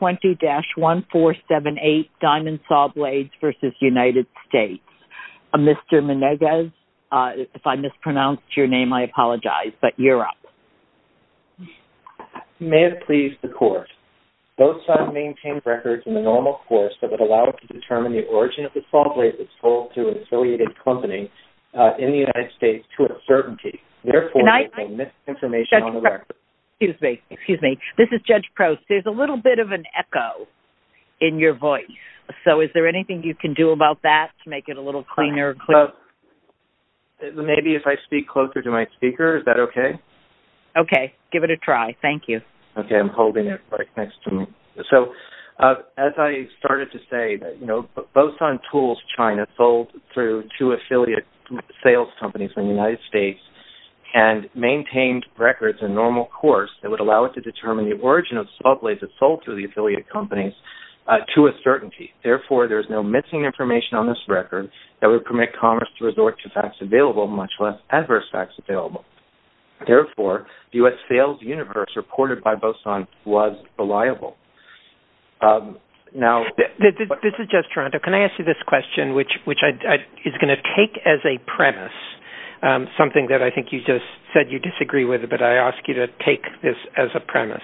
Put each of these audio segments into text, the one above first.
20-1478 Diamond Sawblades v. United States. Mr. Menegez, if I mispronounced your name, I apologize, but you're up. May it please the court. Both sides maintain records in the normal course that would allow us to determine the origin of the sawblade that's sold to an affiliated company in the United States to a certainty. Therefore, you have missed information on the in your voice. So is there anything you can do about that to make it a little cleaner? Maybe if I speak closer to my speaker, is that okay? Okay, give it a try. Thank you. Okay, I'm holding it right next to me. So as I started to say that, you know, both on tools China sold through two affiliate sales companies in the United States and maintained records in normal course that would allow it to determine the origin of sawblades that's sold to the affiliate companies to a certainty. Therefore, there's no missing information on this record that would permit commerce to resort to facts available, much less adverse facts available. Therefore, the U.S. sales universe reported by Boson was reliable. This is Jeff Toronto. Can I ask you this question, which is going to take as a premise something that I think you just said you disagree with, but I ask you to take this as a premise,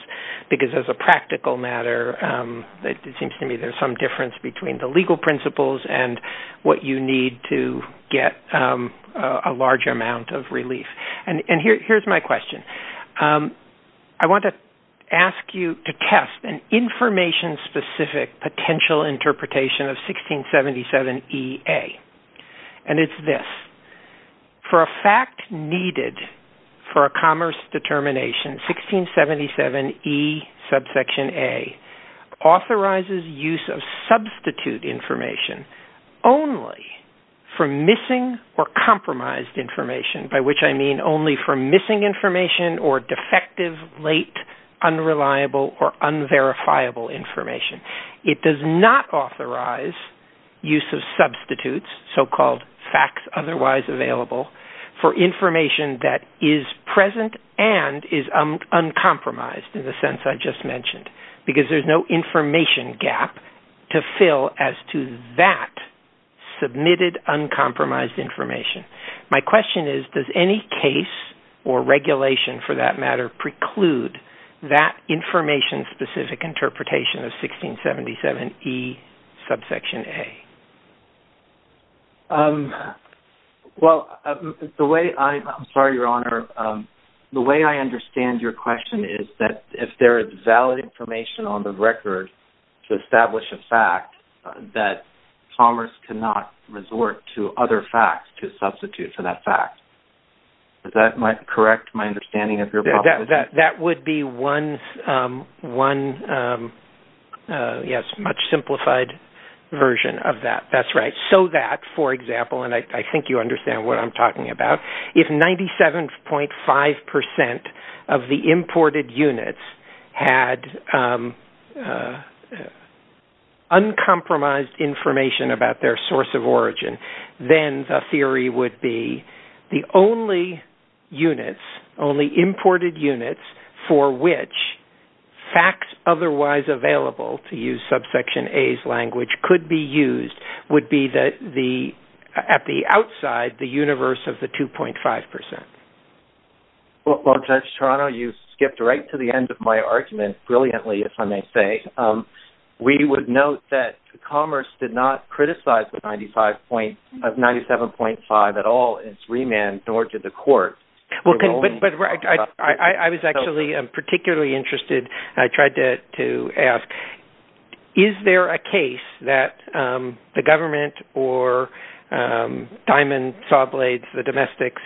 because as a practical matter, it seems to me there's some difference between the legal principles and what you need to get a large amount of relief. And here's my question. I want to ask you to test an information-specific potential interpretation of 1677EA. And it's this, for a fact needed for a commerce determination, 1677EA authorizes use of substitute information only for missing or compromised information, by which I mean only for missing information or defective, late, unreliable, or unverifiable information. It does not authorize use of for information that is present and is uncompromised, in the sense I just mentioned, because there's no information gap to fill as to that submitted, uncompromised information. My question is, does any case or regulation, for that matter, preclude that information-specific interpretation of 1677E subsection A? Well, the way I... I'm sorry, Your Honor. The way I understand your question is that if there is valid information on the record to establish a fact, that commerce cannot resort to other facts to substitute for that fact. Does that correct my understanding of your proposition? That would be one, yes, much simplified version of that. That's right. So that, for example, and I think you understand what I'm talking about, if 97.5% of the imported units had uncompromised information about their source of origin, then the theory would be the only units, only imported units, for which facts otherwise available, to use subsection A's language, could be used would be at the outside, the universe of the 2.5%. Well, Judge Toronto, you skipped right to the end of my argument, brilliantly, if I may say. We would note that commerce did not criticize the 97.5% at all in its remand, nor did the court. But I was actually particularly interested. I tried to ask, is there a case that the government or Diamond Sawblades, the domestics,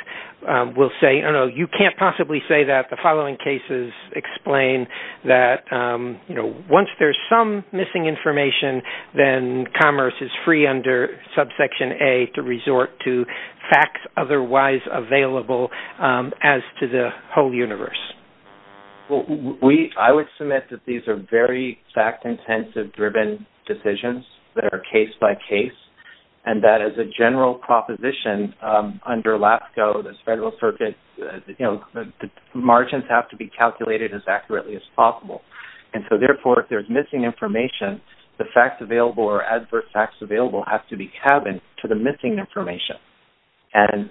will say, oh, no, you can't possibly say that the following cases explain that, you know, once there's some missing information, then commerce is free under subsection A to resort to facts otherwise available as to the whole universe? Well, I would submit that these are very fact-intensive driven decisions that are case by case, and that as a general proposition, under LAFCO, this federal circuit, you know, margins have to be calculated as accurately as possible. And so, therefore, if there's missing information, the facts available or adverse facts available have to be cabined to the missing information. And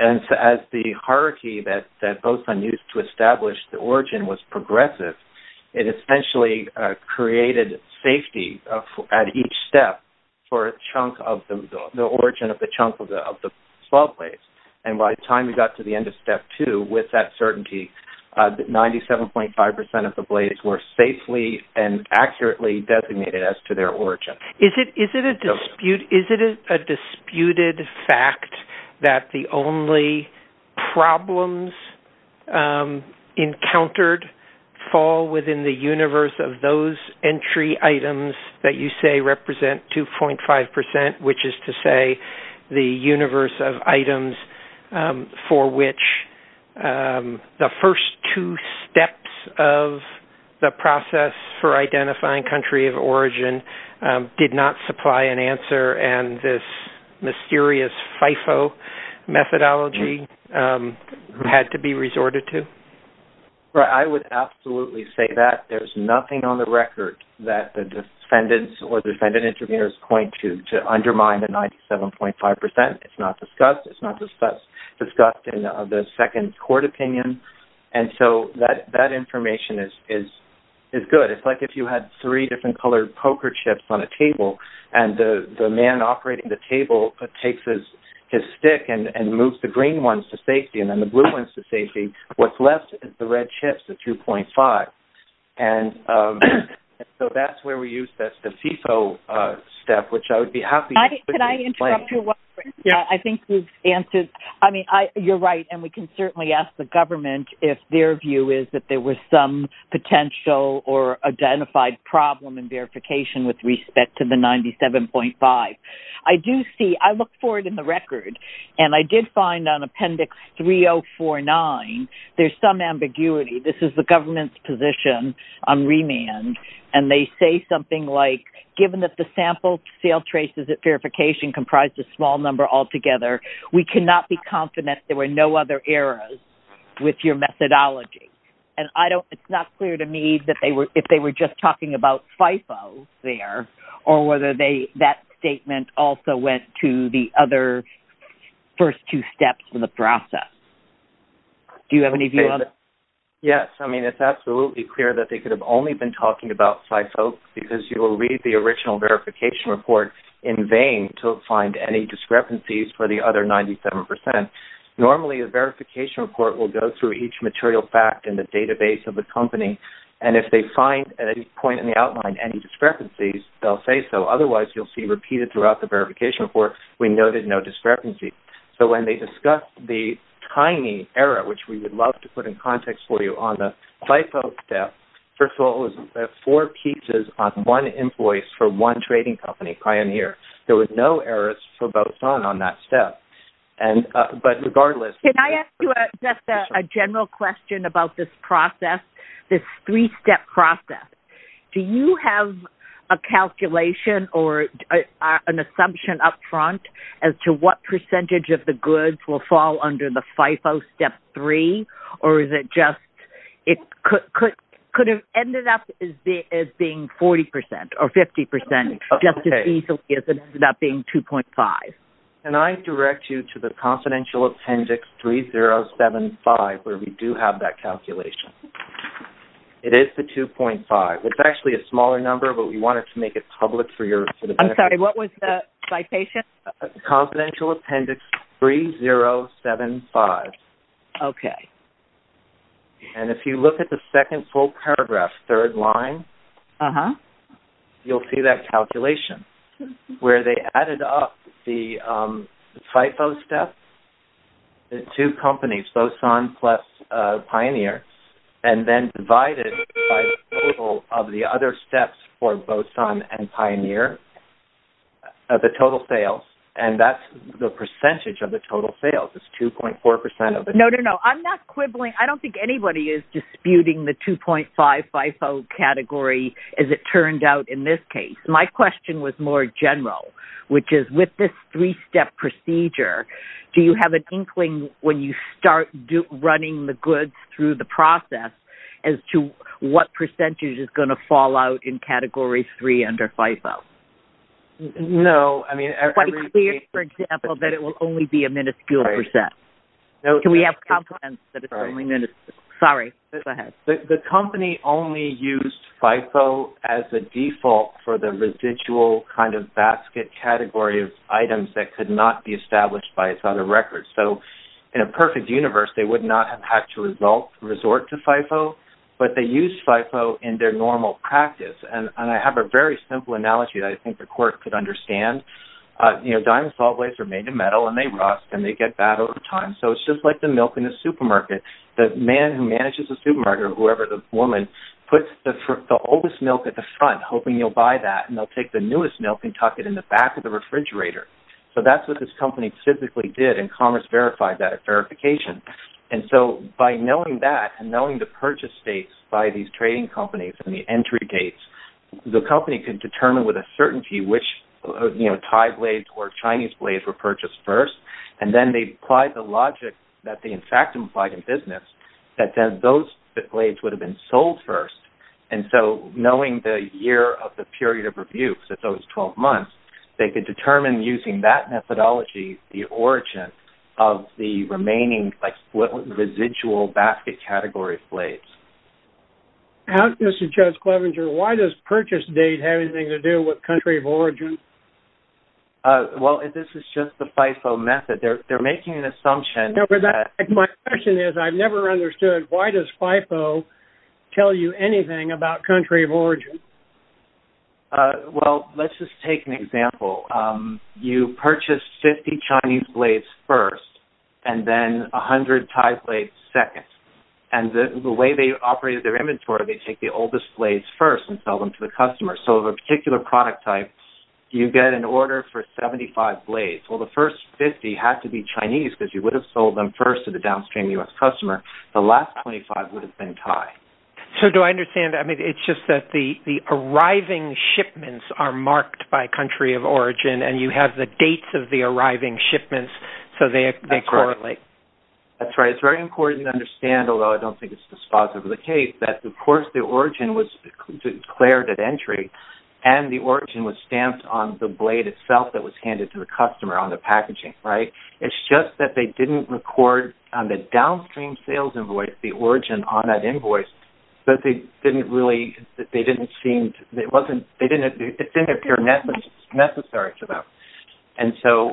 as the hierarchy that both unused to establish the origin was progressive, it essentially created safety at each step for a chunk of the origin of the chunk of the sawblades. And by the time we got to the end of step two, with that certainty, 97.5% of the blades were safely and accurately designated as to their origin. Is it a disputed fact that the only problems encountered fall within the universe of those entry items that you say represent 2.5%, which is to say the universe of items for which the first two steps of the process for identifying country of origin did not supply an answer, and this mysterious FIFO methodology had to be resorted to? I would absolutely say that. There's nothing on the record that the defendants or defendant court opinion. And so, that information is good. It's like if you had three different colored poker chips on a table, and the man operating the table takes his stick and moves the green ones to safety and then the blue ones to safety. What's left is the red chips, the 2.5. And so, that's where we use the FIFO step, which I would be happy to explain. Can I interrupt you one second? Yes. I mean, you're right, and we can certainly ask the government if their view is that there was some potential or identified problem in verification with respect to the 97.5. I look for it in the record, and I did find on Appendix 3049, there's some ambiguity. This is the government's position on remand, and they say something like, given that the sample sale verification comprised a small number altogether, we cannot be confident there were no other errors with your methodology. And it's not clear to me if they were just talking about FIFO there, or whether that statement also went to the other first two steps in the process. Do you have any view on that? Yes. I mean, it's absolutely clear that they could have only been talking about FIFO, because you will read the original verification report in vain to find any discrepancies for the other 97%. Normally, a verification report will go through each material fact in the database of the company, and if they find at any point in the outline any discrepancies, they'll say so. Otherwise, you'll see repeated throughout the verification report, we noted no discrepancies. So, when they discussed the tiny error, which we would love to put in context for you on the FIFO step, first of all, it was four pieces on one invoice for one trading company, Pioneer. There was no errors for both on that step. But regardless... Can I ask you just a general question about this process, this three-step process? Do you have a calculation or an assumption upfront as to what percentage of the goods will fall under the FIFO step three, or is it just... It could have ended up as being 40% or 50% just as easily as it ended up being 2.5. Can I direct you to the confidential appendix 3075, where we do have that calculation? It is the 2.5. It's actually a smaller number, but we wanted to make it public for your benefit. I'm sorry, what was the citation? Confidential appendix 3075. Okay. And if you look at the second full paragraph, third line, you'll see that calculation, where they added up the FIFO step, the two companies, Boson plus Pioneer, and then divided by the total of the other steps for Boson and Pioneer, the total sales. And that's the percentage of the total sales is 2.4% of the... No, no, no. I'm not quibbling. I don't think anybody is disputing the 2.5 FIFO category as it turned out in this case. My question was more general, which is with this three-step procedure, do you have an inkling when you start running the goods through the process as to what percentage is going to fall out in category three under FIFO? No, I mean... Quite clear, for example, that it will only be a minuscule percent. Can we have confidence that it's only... Sorry, go ahead. The company only used FIFO as a default for the residual kind of basket category of items that could not be established by its other records. So, in a perfect universe, they would not have had to resort to FIFO, but they used FIFO in their normal practice. And I have a very simple analogy that I think the court could understand. Dinosaur blades are made of metal and they rust and they get bad over time. So, it's just like the milk in the supermarket. The man who manages the supermarket or whoever the woman puts the oldest milk at the front, hoping you'll buy that, and they'll take the newest milk and tuck it in the back of the refrigerator. So, that's what this company physically did and commerce verified that verification. And so, by knowing that and knowing the purchase dates by these trading companies and the entry dates, the company can determine with a certainty which Thai blades or Chinese blades were purchased first. And then they applied the logic that they in fact implied in business that then those blades would have been sold first. And so, knowing the year of the period of review, so it's always 12 months, they could determine using that methodology the origin of the remaining residual basket category blades. Mr. Judge Clevenger, why does purchase date have anything to do with country of origin? Well, this is just the FIFO method. They're making an assumption. My question is I've never understood why does FIFO tell you anything about country of origin? Well, let's just take an example. You purchase 50 Chinese blades first and then 100 Thai blades second. And the way they operated their inventory, they take the oldest blades first and sell them to the customer. So, of a particular product type, you get an order for 75 blades. Well, the first 50 had to be Chinese because you would have sold them first to the downstream US customer. The last 25 would have been Thai. So, do I understand? I mean, it's just that the arriving shipments are marked by country of origin and you have the dates of the arriving shipments, so they correlate. That's right. It's very important to understand, although I don't think it's dispositive of the case, that of course the origin was declared at entry and the origin was stamped on the blade itself that was handed to the customer on the origin on that invoice, but it didn't appear necessary to them. And so,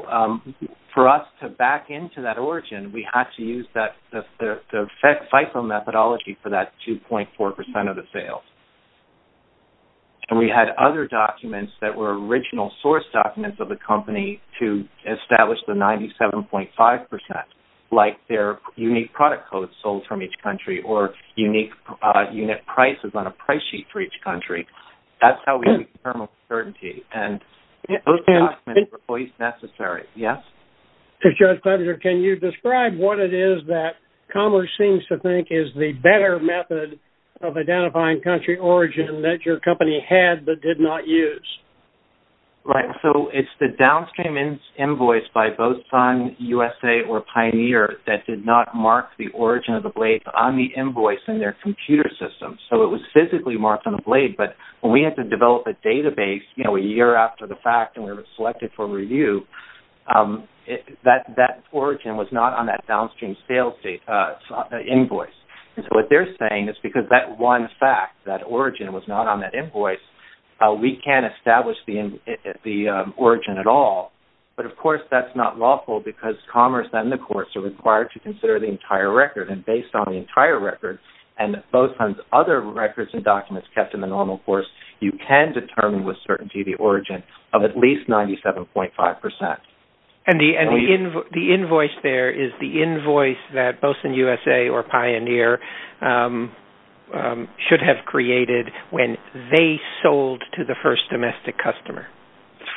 for us to back into that origin, we had to use the FIFO methodology for that 2.4% of the sales. And we had other documents that were original source documents of the company to establish the 97.5% like their unique product code sold from each country or unique unit prices on a price sheet for each country. That's how we determine certainty. And those documents were always necessary. Yes? So, Judge Clevenger, can you describe what it is that Commerce seems to think is the better method of identifying country origin that your company had but did not use? Right. So, it's the downstream invoice by both Sun, USA, or Pioneer that did not mark the origin of the blade on the invoice in their computer system. So, it was physically marked on the blade, but when we had to develop a database, you know, a year after the fact and we were selected for review, that origin was not on that downstream sales invoice. So, what they're saying is because that one fact, that origin was not on that invoice, we can't establish the origin at all. But, of course, that's not lawful because Commerce and the courts are required to consider the entire record. And based on the entire record and both other records and documents kept in the normal course, you can determine with certainty the origin of at least 97.5%. And the invoice there is the invoice that both Sun, USA, or Pioneer should have created when they sold to the first domestic customer?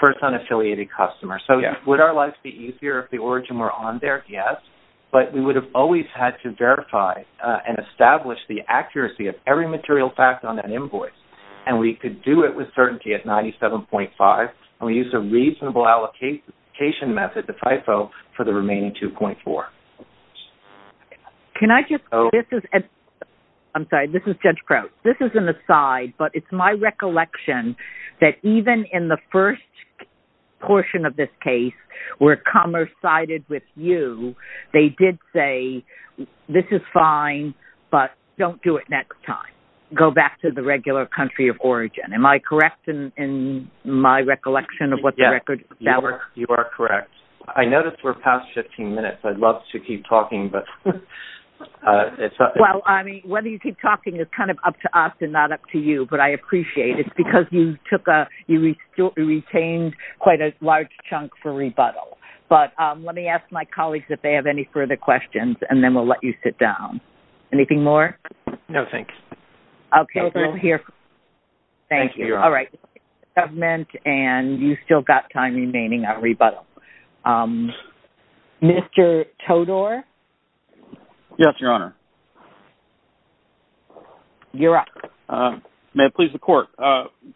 First unaffiliated customer. So, would our lives be easier if the origin were on there? Yes. But we would have always had to verify and establish the accuracy of every material fact on that invoice. And we could do it with certainty at 97.5% and we used a reasonable allocation method, the FIFO, for the remaining 2.4%. Can I just... I'm sorry, this is Judge Crouch. This is an aside, but it's my recollection that even in the first portion of this case where Commerce sided with you, they did say, this is fine, but don't do it next time. Go back to the regular country of origin. Am I correct in my recollection of what the record... Yes, you are correct. I noticed we're past 15 minutes. I'd love to keep talking, but... Well, I mean, whether you keep talking is kind of up to us and not up to you, but I appreciate it because you retained quite a large chunk for rebuttal. But let me ask my colleagues if they have any further questions, and then we'll let you sit down. Anything more? No, thanks. Okay, we'll hear... Thank you. All right. Thank you, Your Honor. ...government, and you've still got time remaining at rebuttal. Mr. Todor? Yes, Your Honor. You're up. May it please the Court?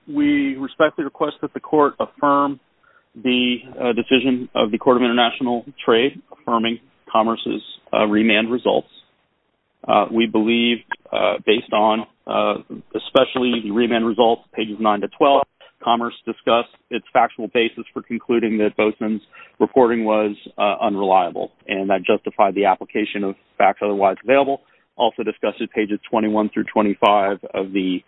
We respectfully request that the Court affirm the decision of the Court of International Trade, affirming Commerce's remand results. We believe, based on especially the remand results, pages 9 to 12, Commerce discussed its factual basis for concluding that Bozeman's reporting was unreliable, and that justified the application of facts otherwise available. Also discussed at pages 21 through 25 of the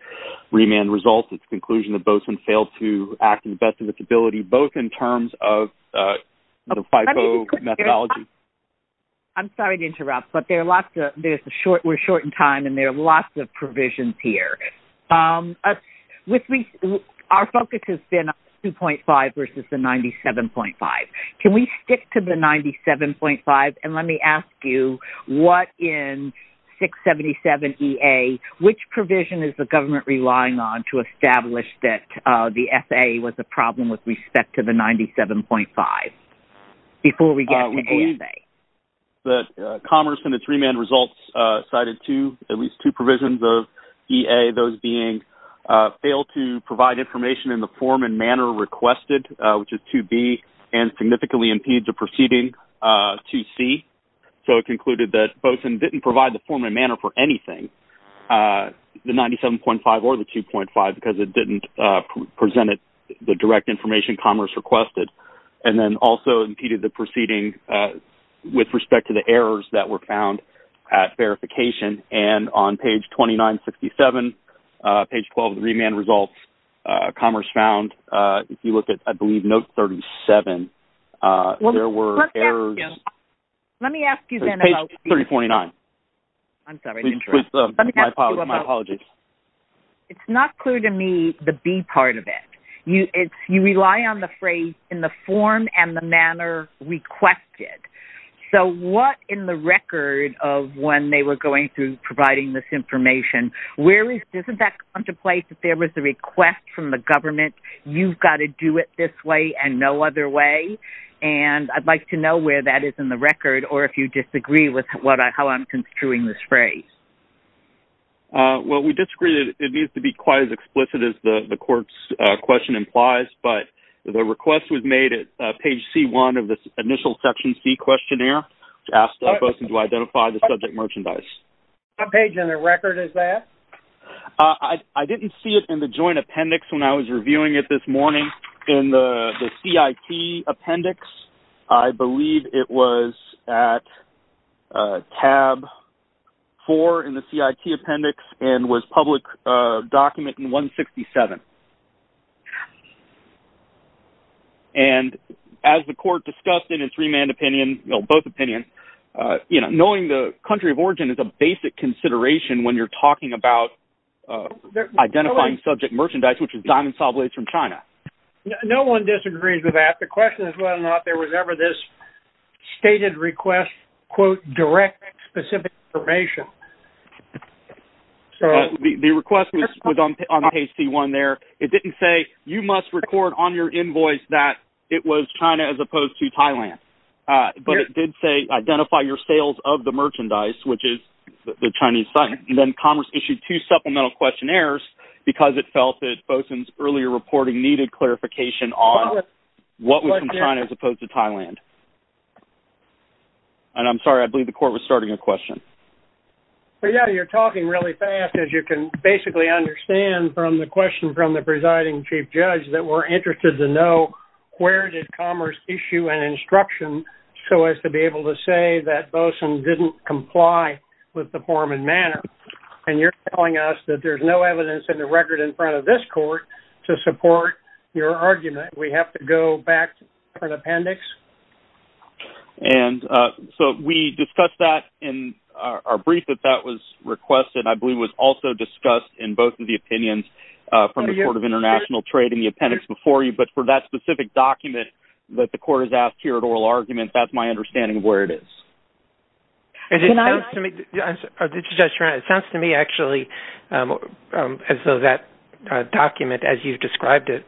remand results is the conclusion that Bozeman failed to act in the best of its ability, both in terms of the FIFO methodology... I'm sorry to interrupt, but we're short in time, and there are lots of provisions here. Our focus has been on the 2.5 versus the 97.5. Can we stick to the 97.5? And let me ask you, what in 677 E-A, which provision is the government relying on to establish that the F-A was a problem with respect to the 97.5 before we get to A-F-A? That Commerce, in its remand results, cited at least two provisions of E-A, those being fail to provide information in the form and manner requested, which is 2-B, and significantly impeded the proceeding, 2-C. So it concluded that Bozeman didn't provide the form and manner for anything, the 97.5 or the 2.5, because it didn't present the direct information Commerce requested, and then also impeded the proceeding with respect to the errors that were found at verification. And on page 2967, page 12 of the remand results, Commerce found, if you look at, I believe, note 37, there were errors... Let me ask you then about... Page 3049. I'm sorry. My apologies. It's not clear to me the B part of it. You rely on the phrase in the form and the manner requested. So what in the record of when they were going through providing this information, doesn't that contemplate that there was a request from the government, you've got to do it this way and no other way? And I'd like to know where that is in the record, or if you disagree with how I'm construing this phrase. Well, we disagree. It needs to be quite as explicit as the court's question implies, but the request was made at page C1 of the initial section C questionnaire, which asked the person to identify the subject merchandise. What page in the record is that? I didn't see it in the joint appendix when I was reviewing it this morning in the CIT appendix. I believe it was at tab four in the CIT appendix and was public document in 167. And as the court discussed in its remand opinion, both opinions, knowing the country of origin is a basic consideration when you're talking about identifying subject merchandise, which is diamond saw blades from China. No one disagrees with that. The question is whether or not there was ever this stated request, quote, direct specific information. So the request was on page C1 there. It didn't say you must record on your invoice that it was China as opposed to Thailand, but it did say identify your sales of the merchandise, which is the Chinese site. And then Commerce issued two supplemental questionnaires because it felt that FOSUN's earlier reporting needed clarification on what was from China as opposed to Thailand. And I'm sorry, I believe the court was starting a question. Well, yeah, you're talking really fast as you can basically understand from the question from the presiding chief judge that we're interested to know where did Commerce issue an instruction so as to be able to say that FOSUN didn't comply with the form and manner. And you're telling us that there's no evidence in the record in front of this court to support your argument. We have to go back to the appendix. And so we discussed that in our brief that that was requested. I believe it was also discussed in both of the opinions from the Court of International Trade in the appendix before you. But for that specific document that the court has asked here at oral argument, that's my understanding of where it is. It sounds to me actually as though that document as you've described it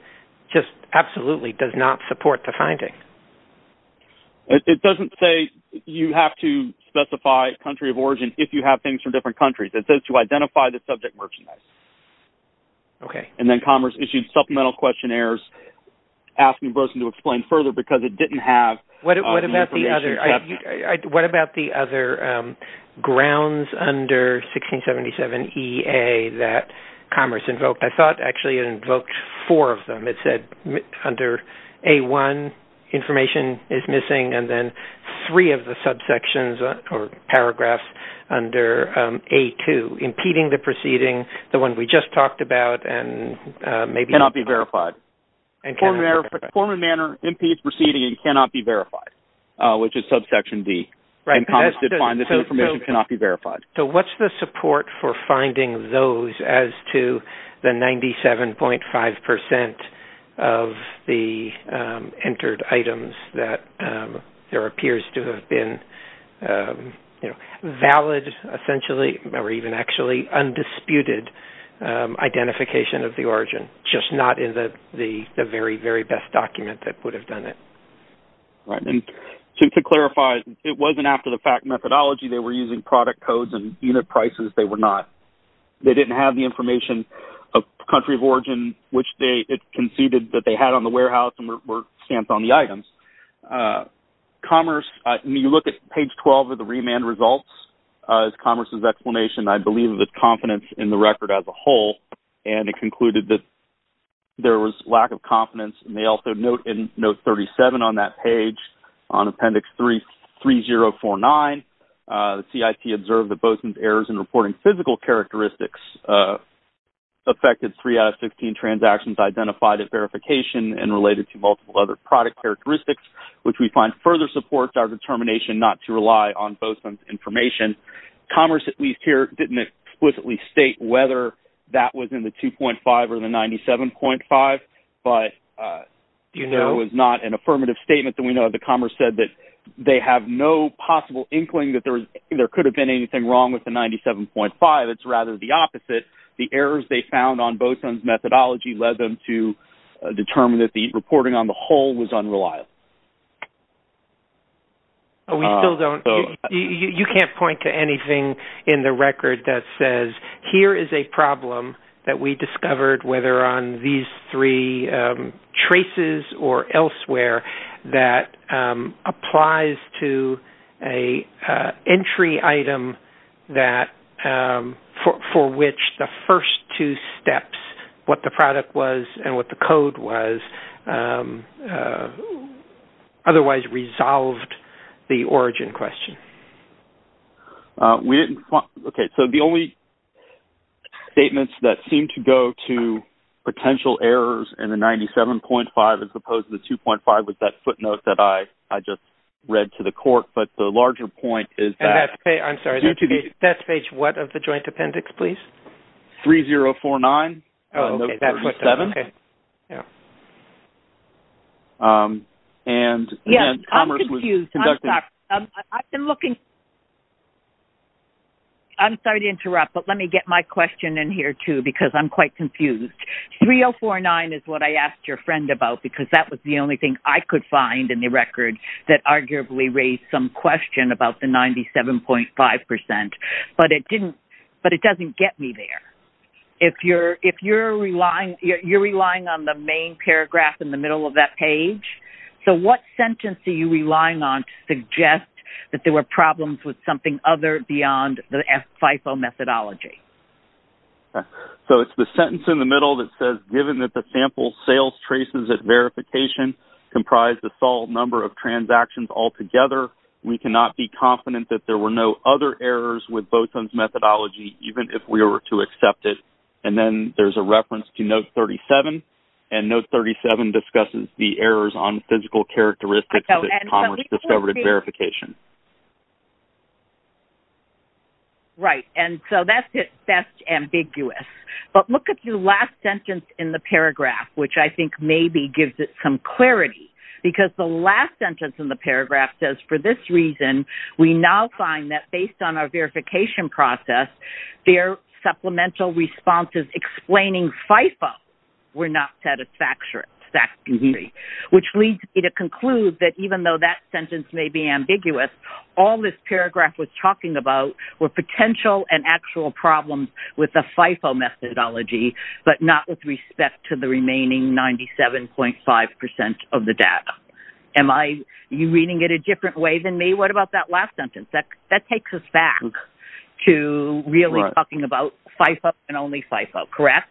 just absolutely does not support the finding. It doesn't say you have to specify a country of origin if you have things from different countries. It says to identify the subject merchandise. Okay. And then Commerce issued supplemental questionnaires asking FOSUN to explain further because it didn't have... What about the other grounds under 1677EA that Commerce invoked? I thought actually it invoked four of them. It said under A1, information is missing and then three of the subsections or paragraphs under A2, impeding the proceeding, the one we just talked about and maybe... Cannot be verified. Form and manner impedes proceeding and cannot be verified, which is subsection D. And Commerce did find this information cannot be verified. So what's the support for finding those as to the 97.5% of the entered items that there appears to have been valid essentially or even actually undisputed identification of the origin, just not in the very, very best document that would have done it. Right. And to clarify, it wasn't after the fact methodology. They were using product codes and unit prices. They were not. They didn't have the information of country of origin, which they conceded that they had on the warehouse and were stamped on the items. Commerce, when you look at page 12 of the remand results as Commerce's explanation, I believe the confidence in the record as a whole, and it concluded that there was lack of confidence. And they also note in note 37 on that page on appendix 3049, CIT observed that Bozeman's errors in reporting physical characteristics affected three out of 15 transactions identified at verification and related to multiple other product characteristics, which we find further supports our determination not to rely on Bozeman's information. Commerce, at least here, didn't explicitly state whether that was in the 2.5 or the 97.5, but there was not an affirmative statement that we know of. The Commerce said that they have no possible inkling that there could have been anything wrong with the 97.5. It's rather the opposite. The errors they found on Bozeman's methodology led them to determine that the reporting on the whole was unreliable. You can't point to anything in the record that says, here is a problem that we discovered, whether on these three traces or elsewhere, that applies to an entry item for which the first two otherwise resolved the origin question. Okay, so the only statements that seem to go to potential errors in the 97.5 as opposed to the 2.5 was that footnote that I just read to the court, but the larger point is that- And that's page, I'm sorry, that's page what of the joint appendix, please? 3049. Oh, okay, that footnote, okay, yeah. And Commerce was conducting- Yes, I'm confused, I'm sorry. I've been looking- I'm sorry to interrupt, but let me get my question in here too, because I'm quite confused. 3049 is what I asked your friend about, because that was the only thing I could find in the record that arguably raised some question about the 97.5%, but it doesn't get me there. If you're relying on the main paragraph in the middle of that page, so what sentence are you relying on to suggest that there were problems with something other beyond the FIFO methodology? So it's the sentence in the middle that says, given that the sample sales traces at verification comprise the sole number of transactions altogether, we cannot be confident that there were no other errors with both those methodology, even if we were to accept it. And then there's a reference to note 37, and note 37 discusses the errors on physical characteristics of the Commerce-discovered verification. Right, and so that's ambiguous. But look at the last sentence in the paragraph, which I think maybe gives it some clarity, because the last sentence in the paragraph says, for this reason, we now find that based on our verification process, their supplemental responses explaining FIFO were not satisfactory, which leads me to conclude that even though that sentence may be ambiguous, all this paragraph was talking about were potential and actual problems with the FIFO methodology, but not with respect to the remaining 97.5% of the data. Am I reading it a different way than me? What about that last sentence? That takes us back to really talking about FIFO and only FIFO, correct?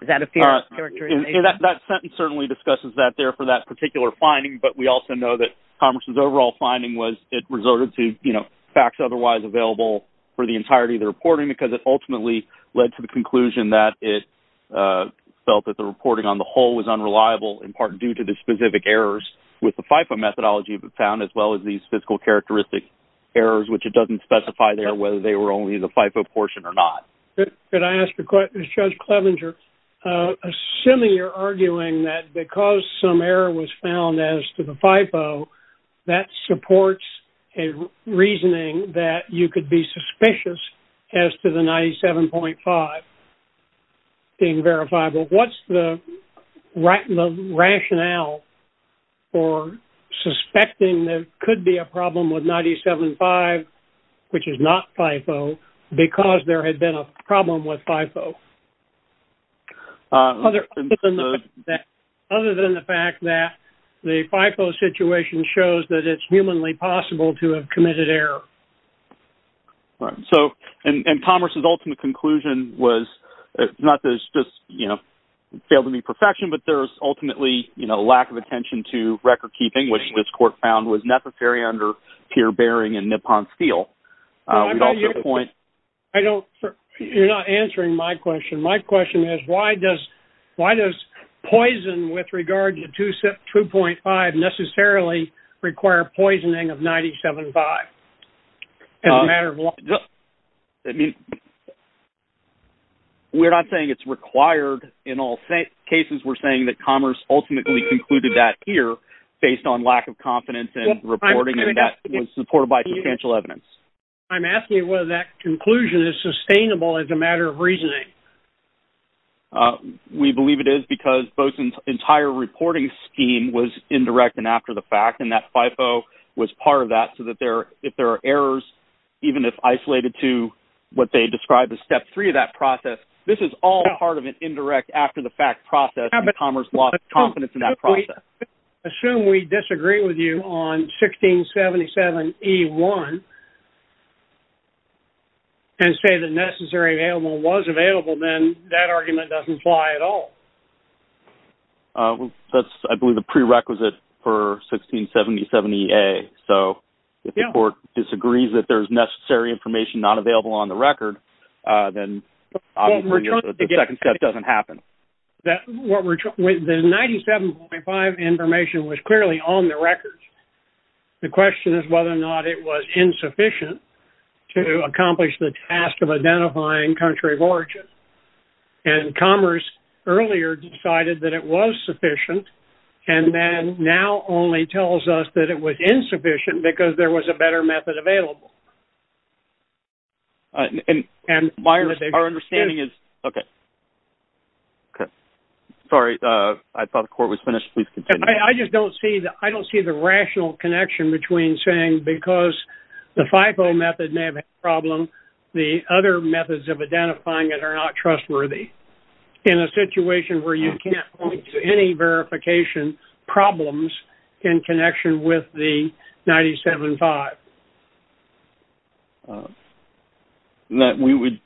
Is that a fair characterization? That sentence certainly discusses that there for that particular finding, but we also know that Commerce's overall finding was it resorted to, you know, facts otherwise available for the entirety of the reporting, because it ultimately led to the conclusion that it felt that the reporting on the whole was unreliable, in part due to the specific errors with the FIFO methodology found, as well as these physical characteristic errors, which it doesn't specify there whether they were only the FIFO portion or not. Could I ask a question, Judge Clevenger? Assuming you're arguing that because some error was found as to the FIFO, that supports a reasoning that you could be suspicious as to the 97.5% being verifiable, what's the rationale for suspecting there could be a problem with 97.5%, which is not FIFO, because there had been a problem with FIFO? Other than the fact that the FIFO situation shows that it's humanly possible to have committed error. All right. So, and Commerce's ultimate conclusion was not that it's just, you know, failed to be perfection, but there's ultimately, you know, lack of attention to record keeping, which this court found was necessary under Peer-Bearing and Nippon-Steele. You're not answering my question. My question is, why does poison with regard to 2.5% necessarily require poisoning of 97.5% as a matter of law? I mean, we're not saying it's required in all cases. We're saying that Commerce ultimately concluded that here based on lack of confidence in reporting, and that was supported by substantial evidence. I'm asking whether that conclusion is sustainable as a matter of reasoning. We believe it is, because Boesen's entire reporting scheme was indirect and after the fact, and that FIFO was part of that, so that if there are errors, even if isolated to what they described as step three of that process, this is all part of an indirect after-the-fact process, and Commerce lost confidence in that process. Assume we disagree with you on 1677E1, and say the necessary available was available, then that argument doesn't apply at all. That's, I believe, the prerequisite for 1677EA, so if the court disagrees that there's necessary information not available on the record, then obviously the second step doesn't happen. That what we're, the 97.5 information was clearly on the record. The question is whether or not it was insufficient to accomplish the task of identifying country of origin, and Commerce earlier decided that it was sufficient, and then now only tells us that it was insufficient because there was a better method available. And my understanding is, okay. Sorry, I thought the court was finished. Please continue. I just don't see the, I don't see the rational connection between saying because the FIFO method may have a problem, the other methods of identifying it are not trustworthy, in a situation where you can't point to any verification problems in connection with the 97.5. And that we would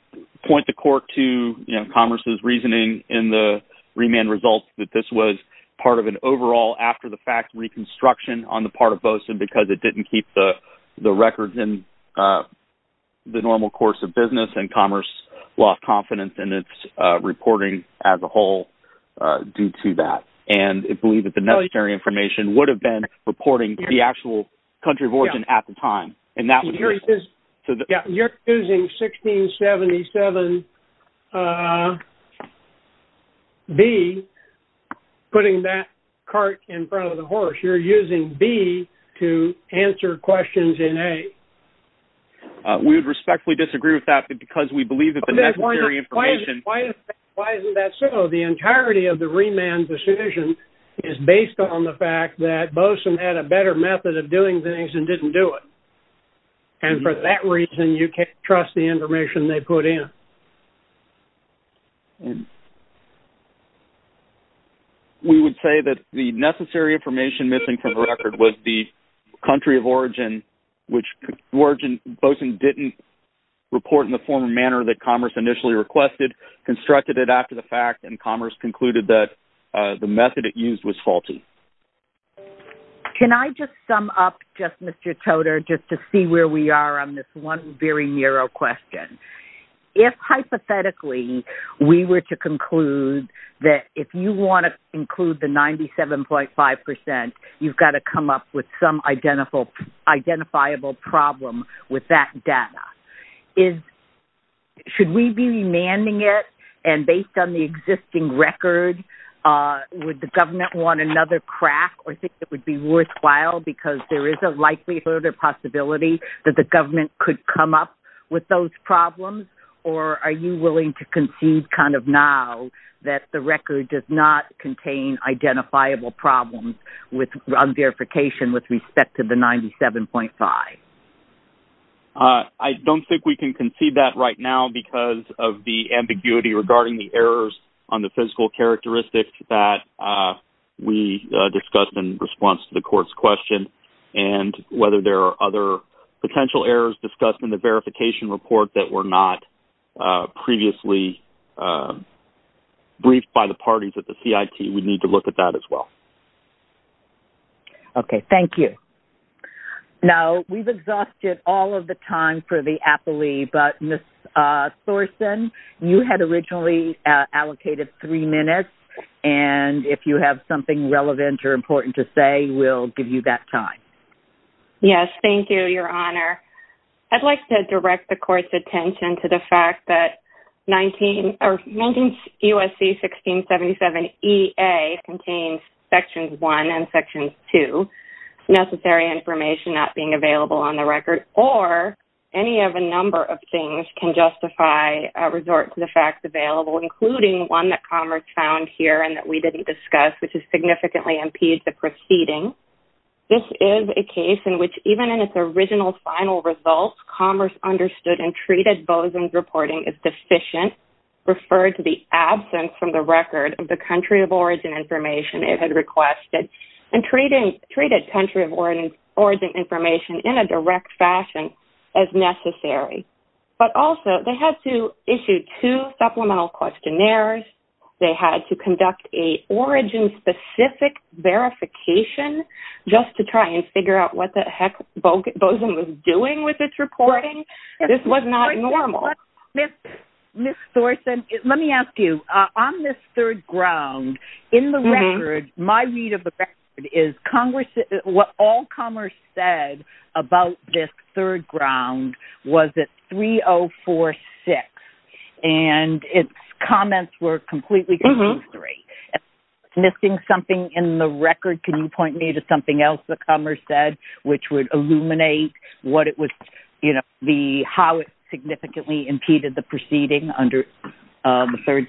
point the court to, you know, Commerce's reasoning in the remand results that this was part of an overall after the fact reconstruction on the part of BOSIN because it didn't keep the records in the normal course of business, and Commerce lost confidence in its reporting as a whole due to that. And it believed that the necessary information would have been supporting the actual country of origin at the time. And that was... You're using 1677B, putting that cart in front of the horse. You're using B to answer questions in A. We would respectfully disagree with that because we believe that the necessary information... Why isn't that so? The entirety of the remand decision is based on the fact that BOSIN had a better method of doing things and didn't do it. And for that reason, you can't trust the information they put in. We would say that the necessary information missing from the record was the country of origin, which BOSIN didn't report in the form and manner that Commerce initially requested, constructed it after the fact, and Commerce concluded that the method it used was faulty. Can I just sum up, just Mr. Toder, just to see where we are on this one very narrow question? If, hypothetically, we were to conclude that if you want to include the 97.5%, you've got to come up with some identifiable problem with that data, should we be remanding it and based on the existing record, would the government want another crack or think it would be worthwhile because there is a likelihood or possibility that the government could come up with those problems? Or are you willing to concede now that the record does not contain identifiable problems on verification with respect to the 97.5? I don't think we can concede that right now because of the ambiguity regarding the errors on the physical characteristics that we discussed in response to the court's question and whether there are other potential errors discussed in the verification report that were not previously briefed by the parties at the CIT. We need to look at that as well. Okay. Thank you. Now, we've exhausted all of the time for the appellee, but Ms. Thorsen, you had originally allocated three minutes, and if you have something relevant or important to say, we'll give you that time. Yes. Thank you, Your Honor. I'd like to direct the court's attention to the fact that 19 U.S.C. 1677 E.A. contains sections one and sections two, necessary information not being available on the record, or any of a number of things can justify a resort to the facts available, including one that Commerce found here and that we didn't discuss, which is significantly impede the proceeding. This is a case in which even in its original final results, Commerce understood and treated Bozum's reporting as deficient, referred to the absence from the record of the country of origin information it had requested, and treated country of origin information in a direct fashion as necessary. But also, they had to issue two supplemental questionnaires. They had to conduct a origin-specific verification just to try and figure out what the heck Bozum was doing with its reporting. This was not normal. Ms. Thorsen, let me ask you, on this third ground, in the record, my read of the record is what all Commerce said about this third ground was that 3046, and its comments were completely contrary. Missing something in the record, can you point me to something else that Commerce said which would illuminate how it significantly impeded the proceeding under the third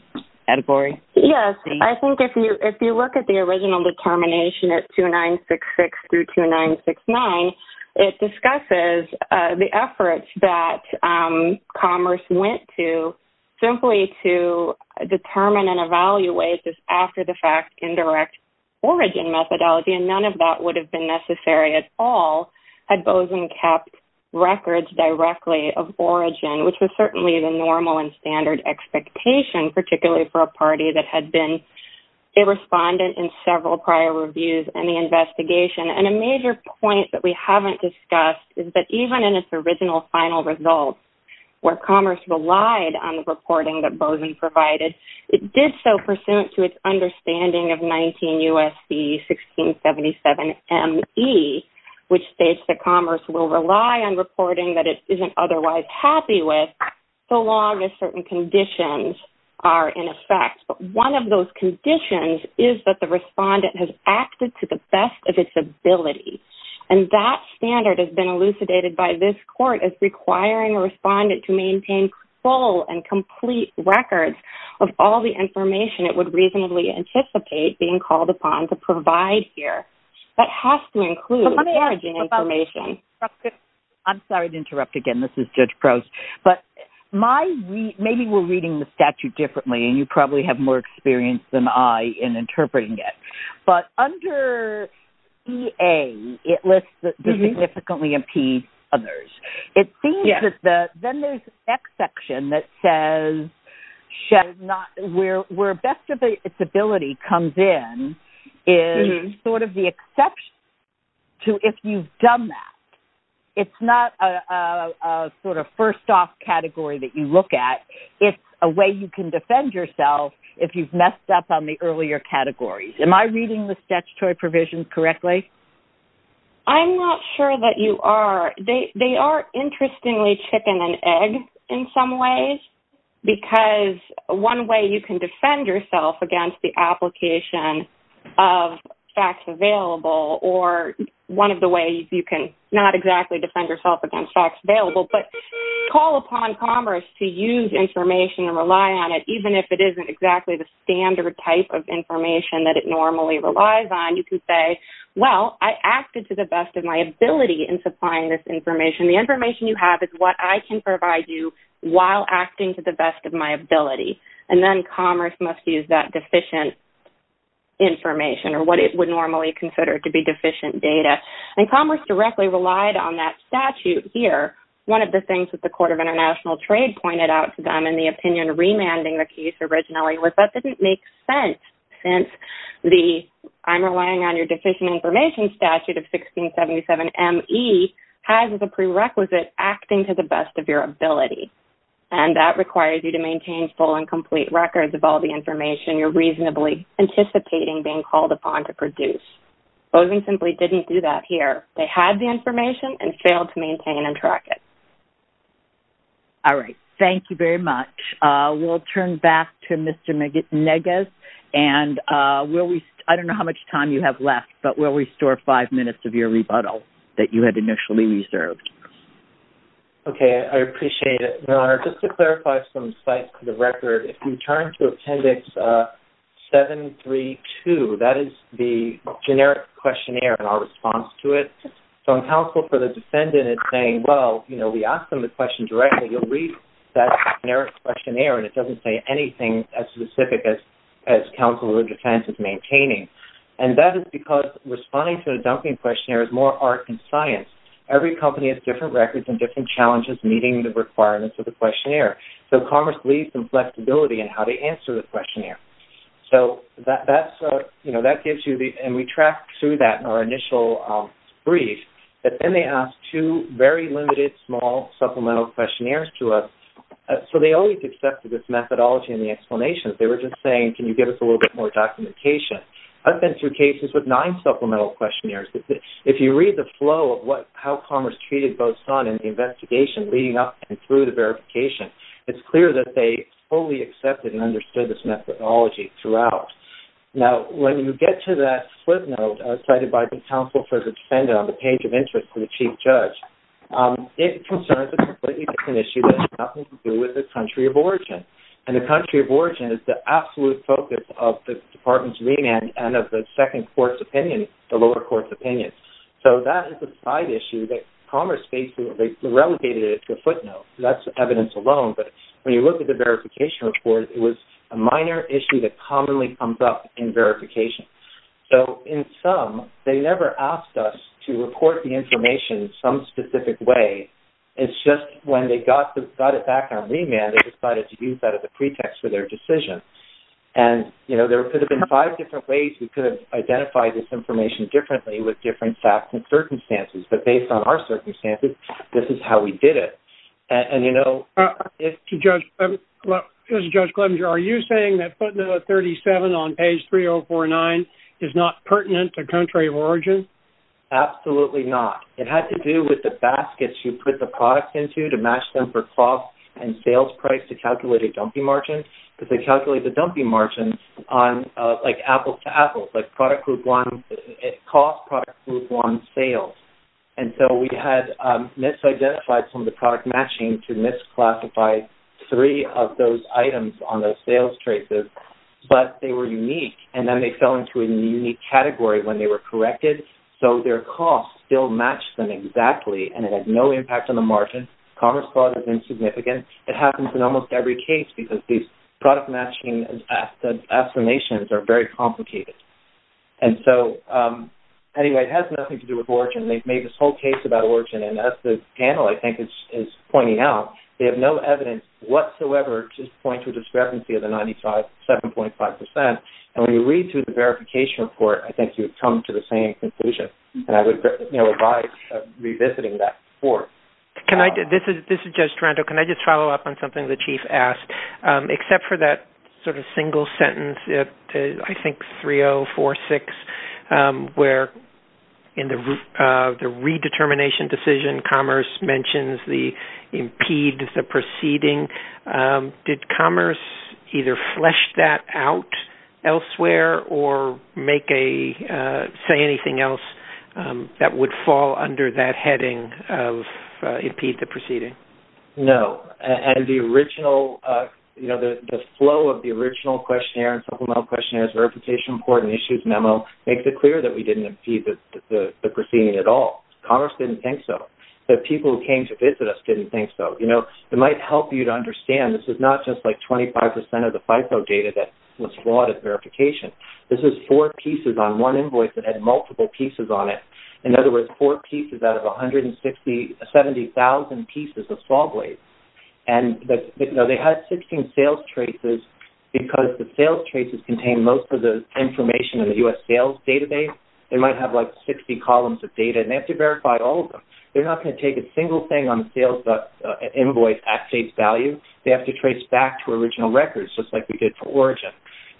category? Yes. I think if you look at the original determination at 2966 through 2969, it discusses the efforts that Commerce went to simply to determine and evaluate this after-the-fact indirect origin methodology, and none of that would have been necessary at all had Bozum kept records directly of origin, which was certainly the normal and standard expectation, particularly for a party that had been a respondent in several prior reviews and the investigation. A major point that we haven't discussed is that even in its original final results, where Commerce relied on the reporting that Bozum provided, it did so pursuant to its understanding of 19 U.S.C. 1677 M.E., which states that Commerce will rely on reporting that it isn't otherwise happy with so long as certain conditions are in effect. But one of those conditions is that the respondent has acted to the best of its ability, and that standard has been elucidated by this court as requiring a respondent to maintain full and complete records of all the information it would reasonably anticipate being called upon to provide here. That has to include origin information. I'm sorry to interrupt again. This is Judge Prost. But maybe we're reading the statute differently, and you probably have more experience than I in interpreting it. But under EA, it lists the significantly impede others. It seems that then there's an exception that says where best of its ability comes in sort of the exception to if you've done that. It's not a sort of first-off category that you look at. It's a way you can defend yourself if you've messed up on the earlier categories. Am I reading the statutory provisions correctly? I'm not sure that you are. They are, interestingly, chicken and egg in some ways, because one way you can defend yourself against the application of facts available or one of the ways you can not exactly defend yourself against facts available, but call upon Commerce to use information and rely on it, even if it isn't exactly the standard type of information that it normally relies on. You can say, well, I acted to the best of my ability in supplying this information. The information you have is what I can provide you while acting to the best of my ability. And then Commerce must use that deficient information or what it would normally consider to be deficient data. And Commerce directly relied on that statute here. One of the things that the Court of International Trade pointed out to them in the opinion remanding the case originally was that didn't make sense since the I'm relying on your deficient information statute of 1677 M.E. has as a prerequisite acting to the best of your ability. And that requires you to maintain full and complete records of all the information you're reasonably anticipating being called upon to produce. Bozeng simply didn't do that here. They had the information and failed to maintain and track it. All right. Thank you very much. We'll turn back to Mr. Neges and I don't know how much time you have left, but we'll restore five minutes of your rebuttal that you had initially reserved. Okay. I appreciate it, Your Honor. Just to clarify some insights to the record, if you turn to Appendix 732, that is the generic questionnaire and our response to it. So in counsel for the defendant, it's saying, well, you know, we asked them the question directly. You'll read that generic questionnaire and it doesn't say anything as specific as counsel or defense is maintaining. And that is because responding to a dumping questionnaire is more art and science. Every company has different records and different challenges meeting the requirements of the questionnaire. So commerce leads and flexibility and how they answer the questionnaire. So that's, you know, that gives you the, and we track through that in our initial brief, but then they asked two very limited, small supplemental questionnaires to us. So they always accepted this methodology and the explanations. They were just saying, can you give us a little bit more documentation? I've been through cases with nine supplemental questionnaires. If you read the flow of what, how commerce treated both son and the investigation leading up and through the verification, it's clear that they fully accepted and understood this methodology throughout. Now, when you get to that slip note cited by the counsel for the defendant on the page of interest to the chief judge, it concerns a completely different issue that has nothing to do with the country of origin. And the country of origin is the absolute focus of the department's remand and of the second court's opinion, the lower court's opinion. So that is a side issue that commerce faces. They relegated it to a footnote. That's evidence alone. But when you look at the verification report, it was a minor issue that commonly comes up in verification. So in sum, they never asked us to report the information some specific way. It's just when they got it back on remand, they decided to use that as a pretext for their decision. And, you know, there could have been five different ways we could have identified this information differently with different facts and circumstances. But based on our circumstances, this is how we did it. And, you know, if... To Judge Clemenger, are you saying that footnote 37 on page 3049 is not pertinent to country of origin? Absolutely not. It had to do with the baskets you put the products into to match them for cost and sales price to calculate a dumpy margin because they calculate the dumpy margin on, like, apples to apples, like, product group one, cost, product group one, sales. And so we had misidentified some of the product matching to misclassify three of those items on those sales traces. But they were unique. And then they fell into a unique category when they were corrected. So their cost still matched them exactly. And it had no impact on the margin. Commerce clause is insignificant. It happens in almost every case because these product matching assignations are very complicated. And so, anyway, it has nothing to do with origin. They've made this whole case about origin. And as the panel, I think, is pointing out, they have no evidence whatsoever to point to a discrepancy of the 97.5%. And when you read through the verification report, I think you would come to the same conclusion. And I would, you know, advise revisiting that report. Can I... This is Judge Toronto. Can I just follow up on something the Chief asked? Except for that sort of single sentence, I think 3046, where in the redetermination decision, Commerce mentions the impede the proceeding. Did Commerce either flesh that out elsewhere or make a... Say anything else that would fall under that heading of impede the proceeding? No. And the original, you know, the flow of the original questionnaire and supplemental questionnaires, verification report and issues memo makes it clear that we didn't impede the proceeding at all. Commerce didn't think so. The people who came to visit us didn't think so. You know, it might help you to understand this is not just like 25% of the FIFO data that was flawed at verification. This is four pieces on one invoice that had multiple pieces on it. In other words, four pieces out of 170,000 pieces of saw blades. And, you know, they had 16 sales traces because the sales traces contain most of the information in the US sales database. They might have like 60 columns of data and they have to verify all of them. They're not going to take a single thing on the sales invoice at face value. They have to trace back to original records just like we did for origin.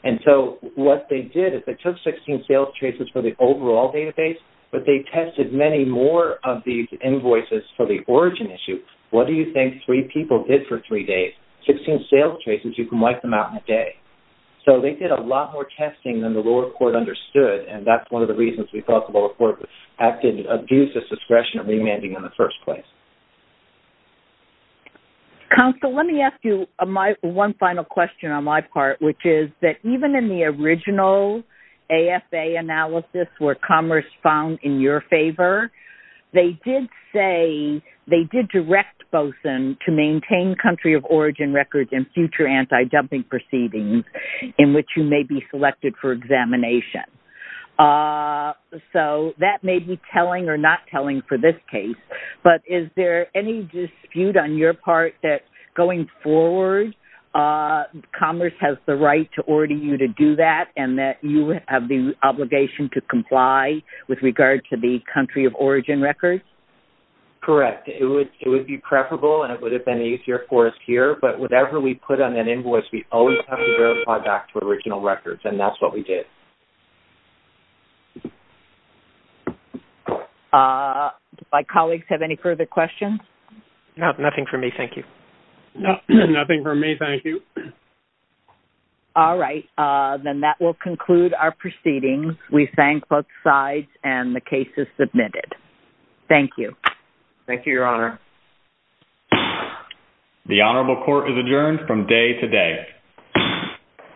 And so what they did is they took 16 sales traces for the overall database, but they tested many more of these invoices for the origin issue. What do you think three people did for three days? 16 sales traces, you can wipe them out in a day. So they did a lot more testing than the lower court understood. And that's one of the reasons we felt the lower court acted to abuse this discretion of remanding in the first place. Counsel, let me ask you one final question on my part, which is that even in the original AFA analysis where Commerce found in your favor, they did say they did direct BOSUN to maintain country of origin records and future anti-dumping proceedings in which you may be selected for examination. So that may be telling or not telling for this case, but is there any dispute on your have the obligation to comply with regard to the country of origin records? Correct. It would be preferable and it would have been easier for us here, but whatever we put on an invoice, we always have to verify back to original records. And that's what we did. My colleagues have any further questions? Nothing for me. Thank you. Nothing for me. Thank you. All right. Then that will conclude our proceedings. We thank both sides and the case is submitted. Thank you. Thank you, Your Honor. The honorable court is adjourned from day to day.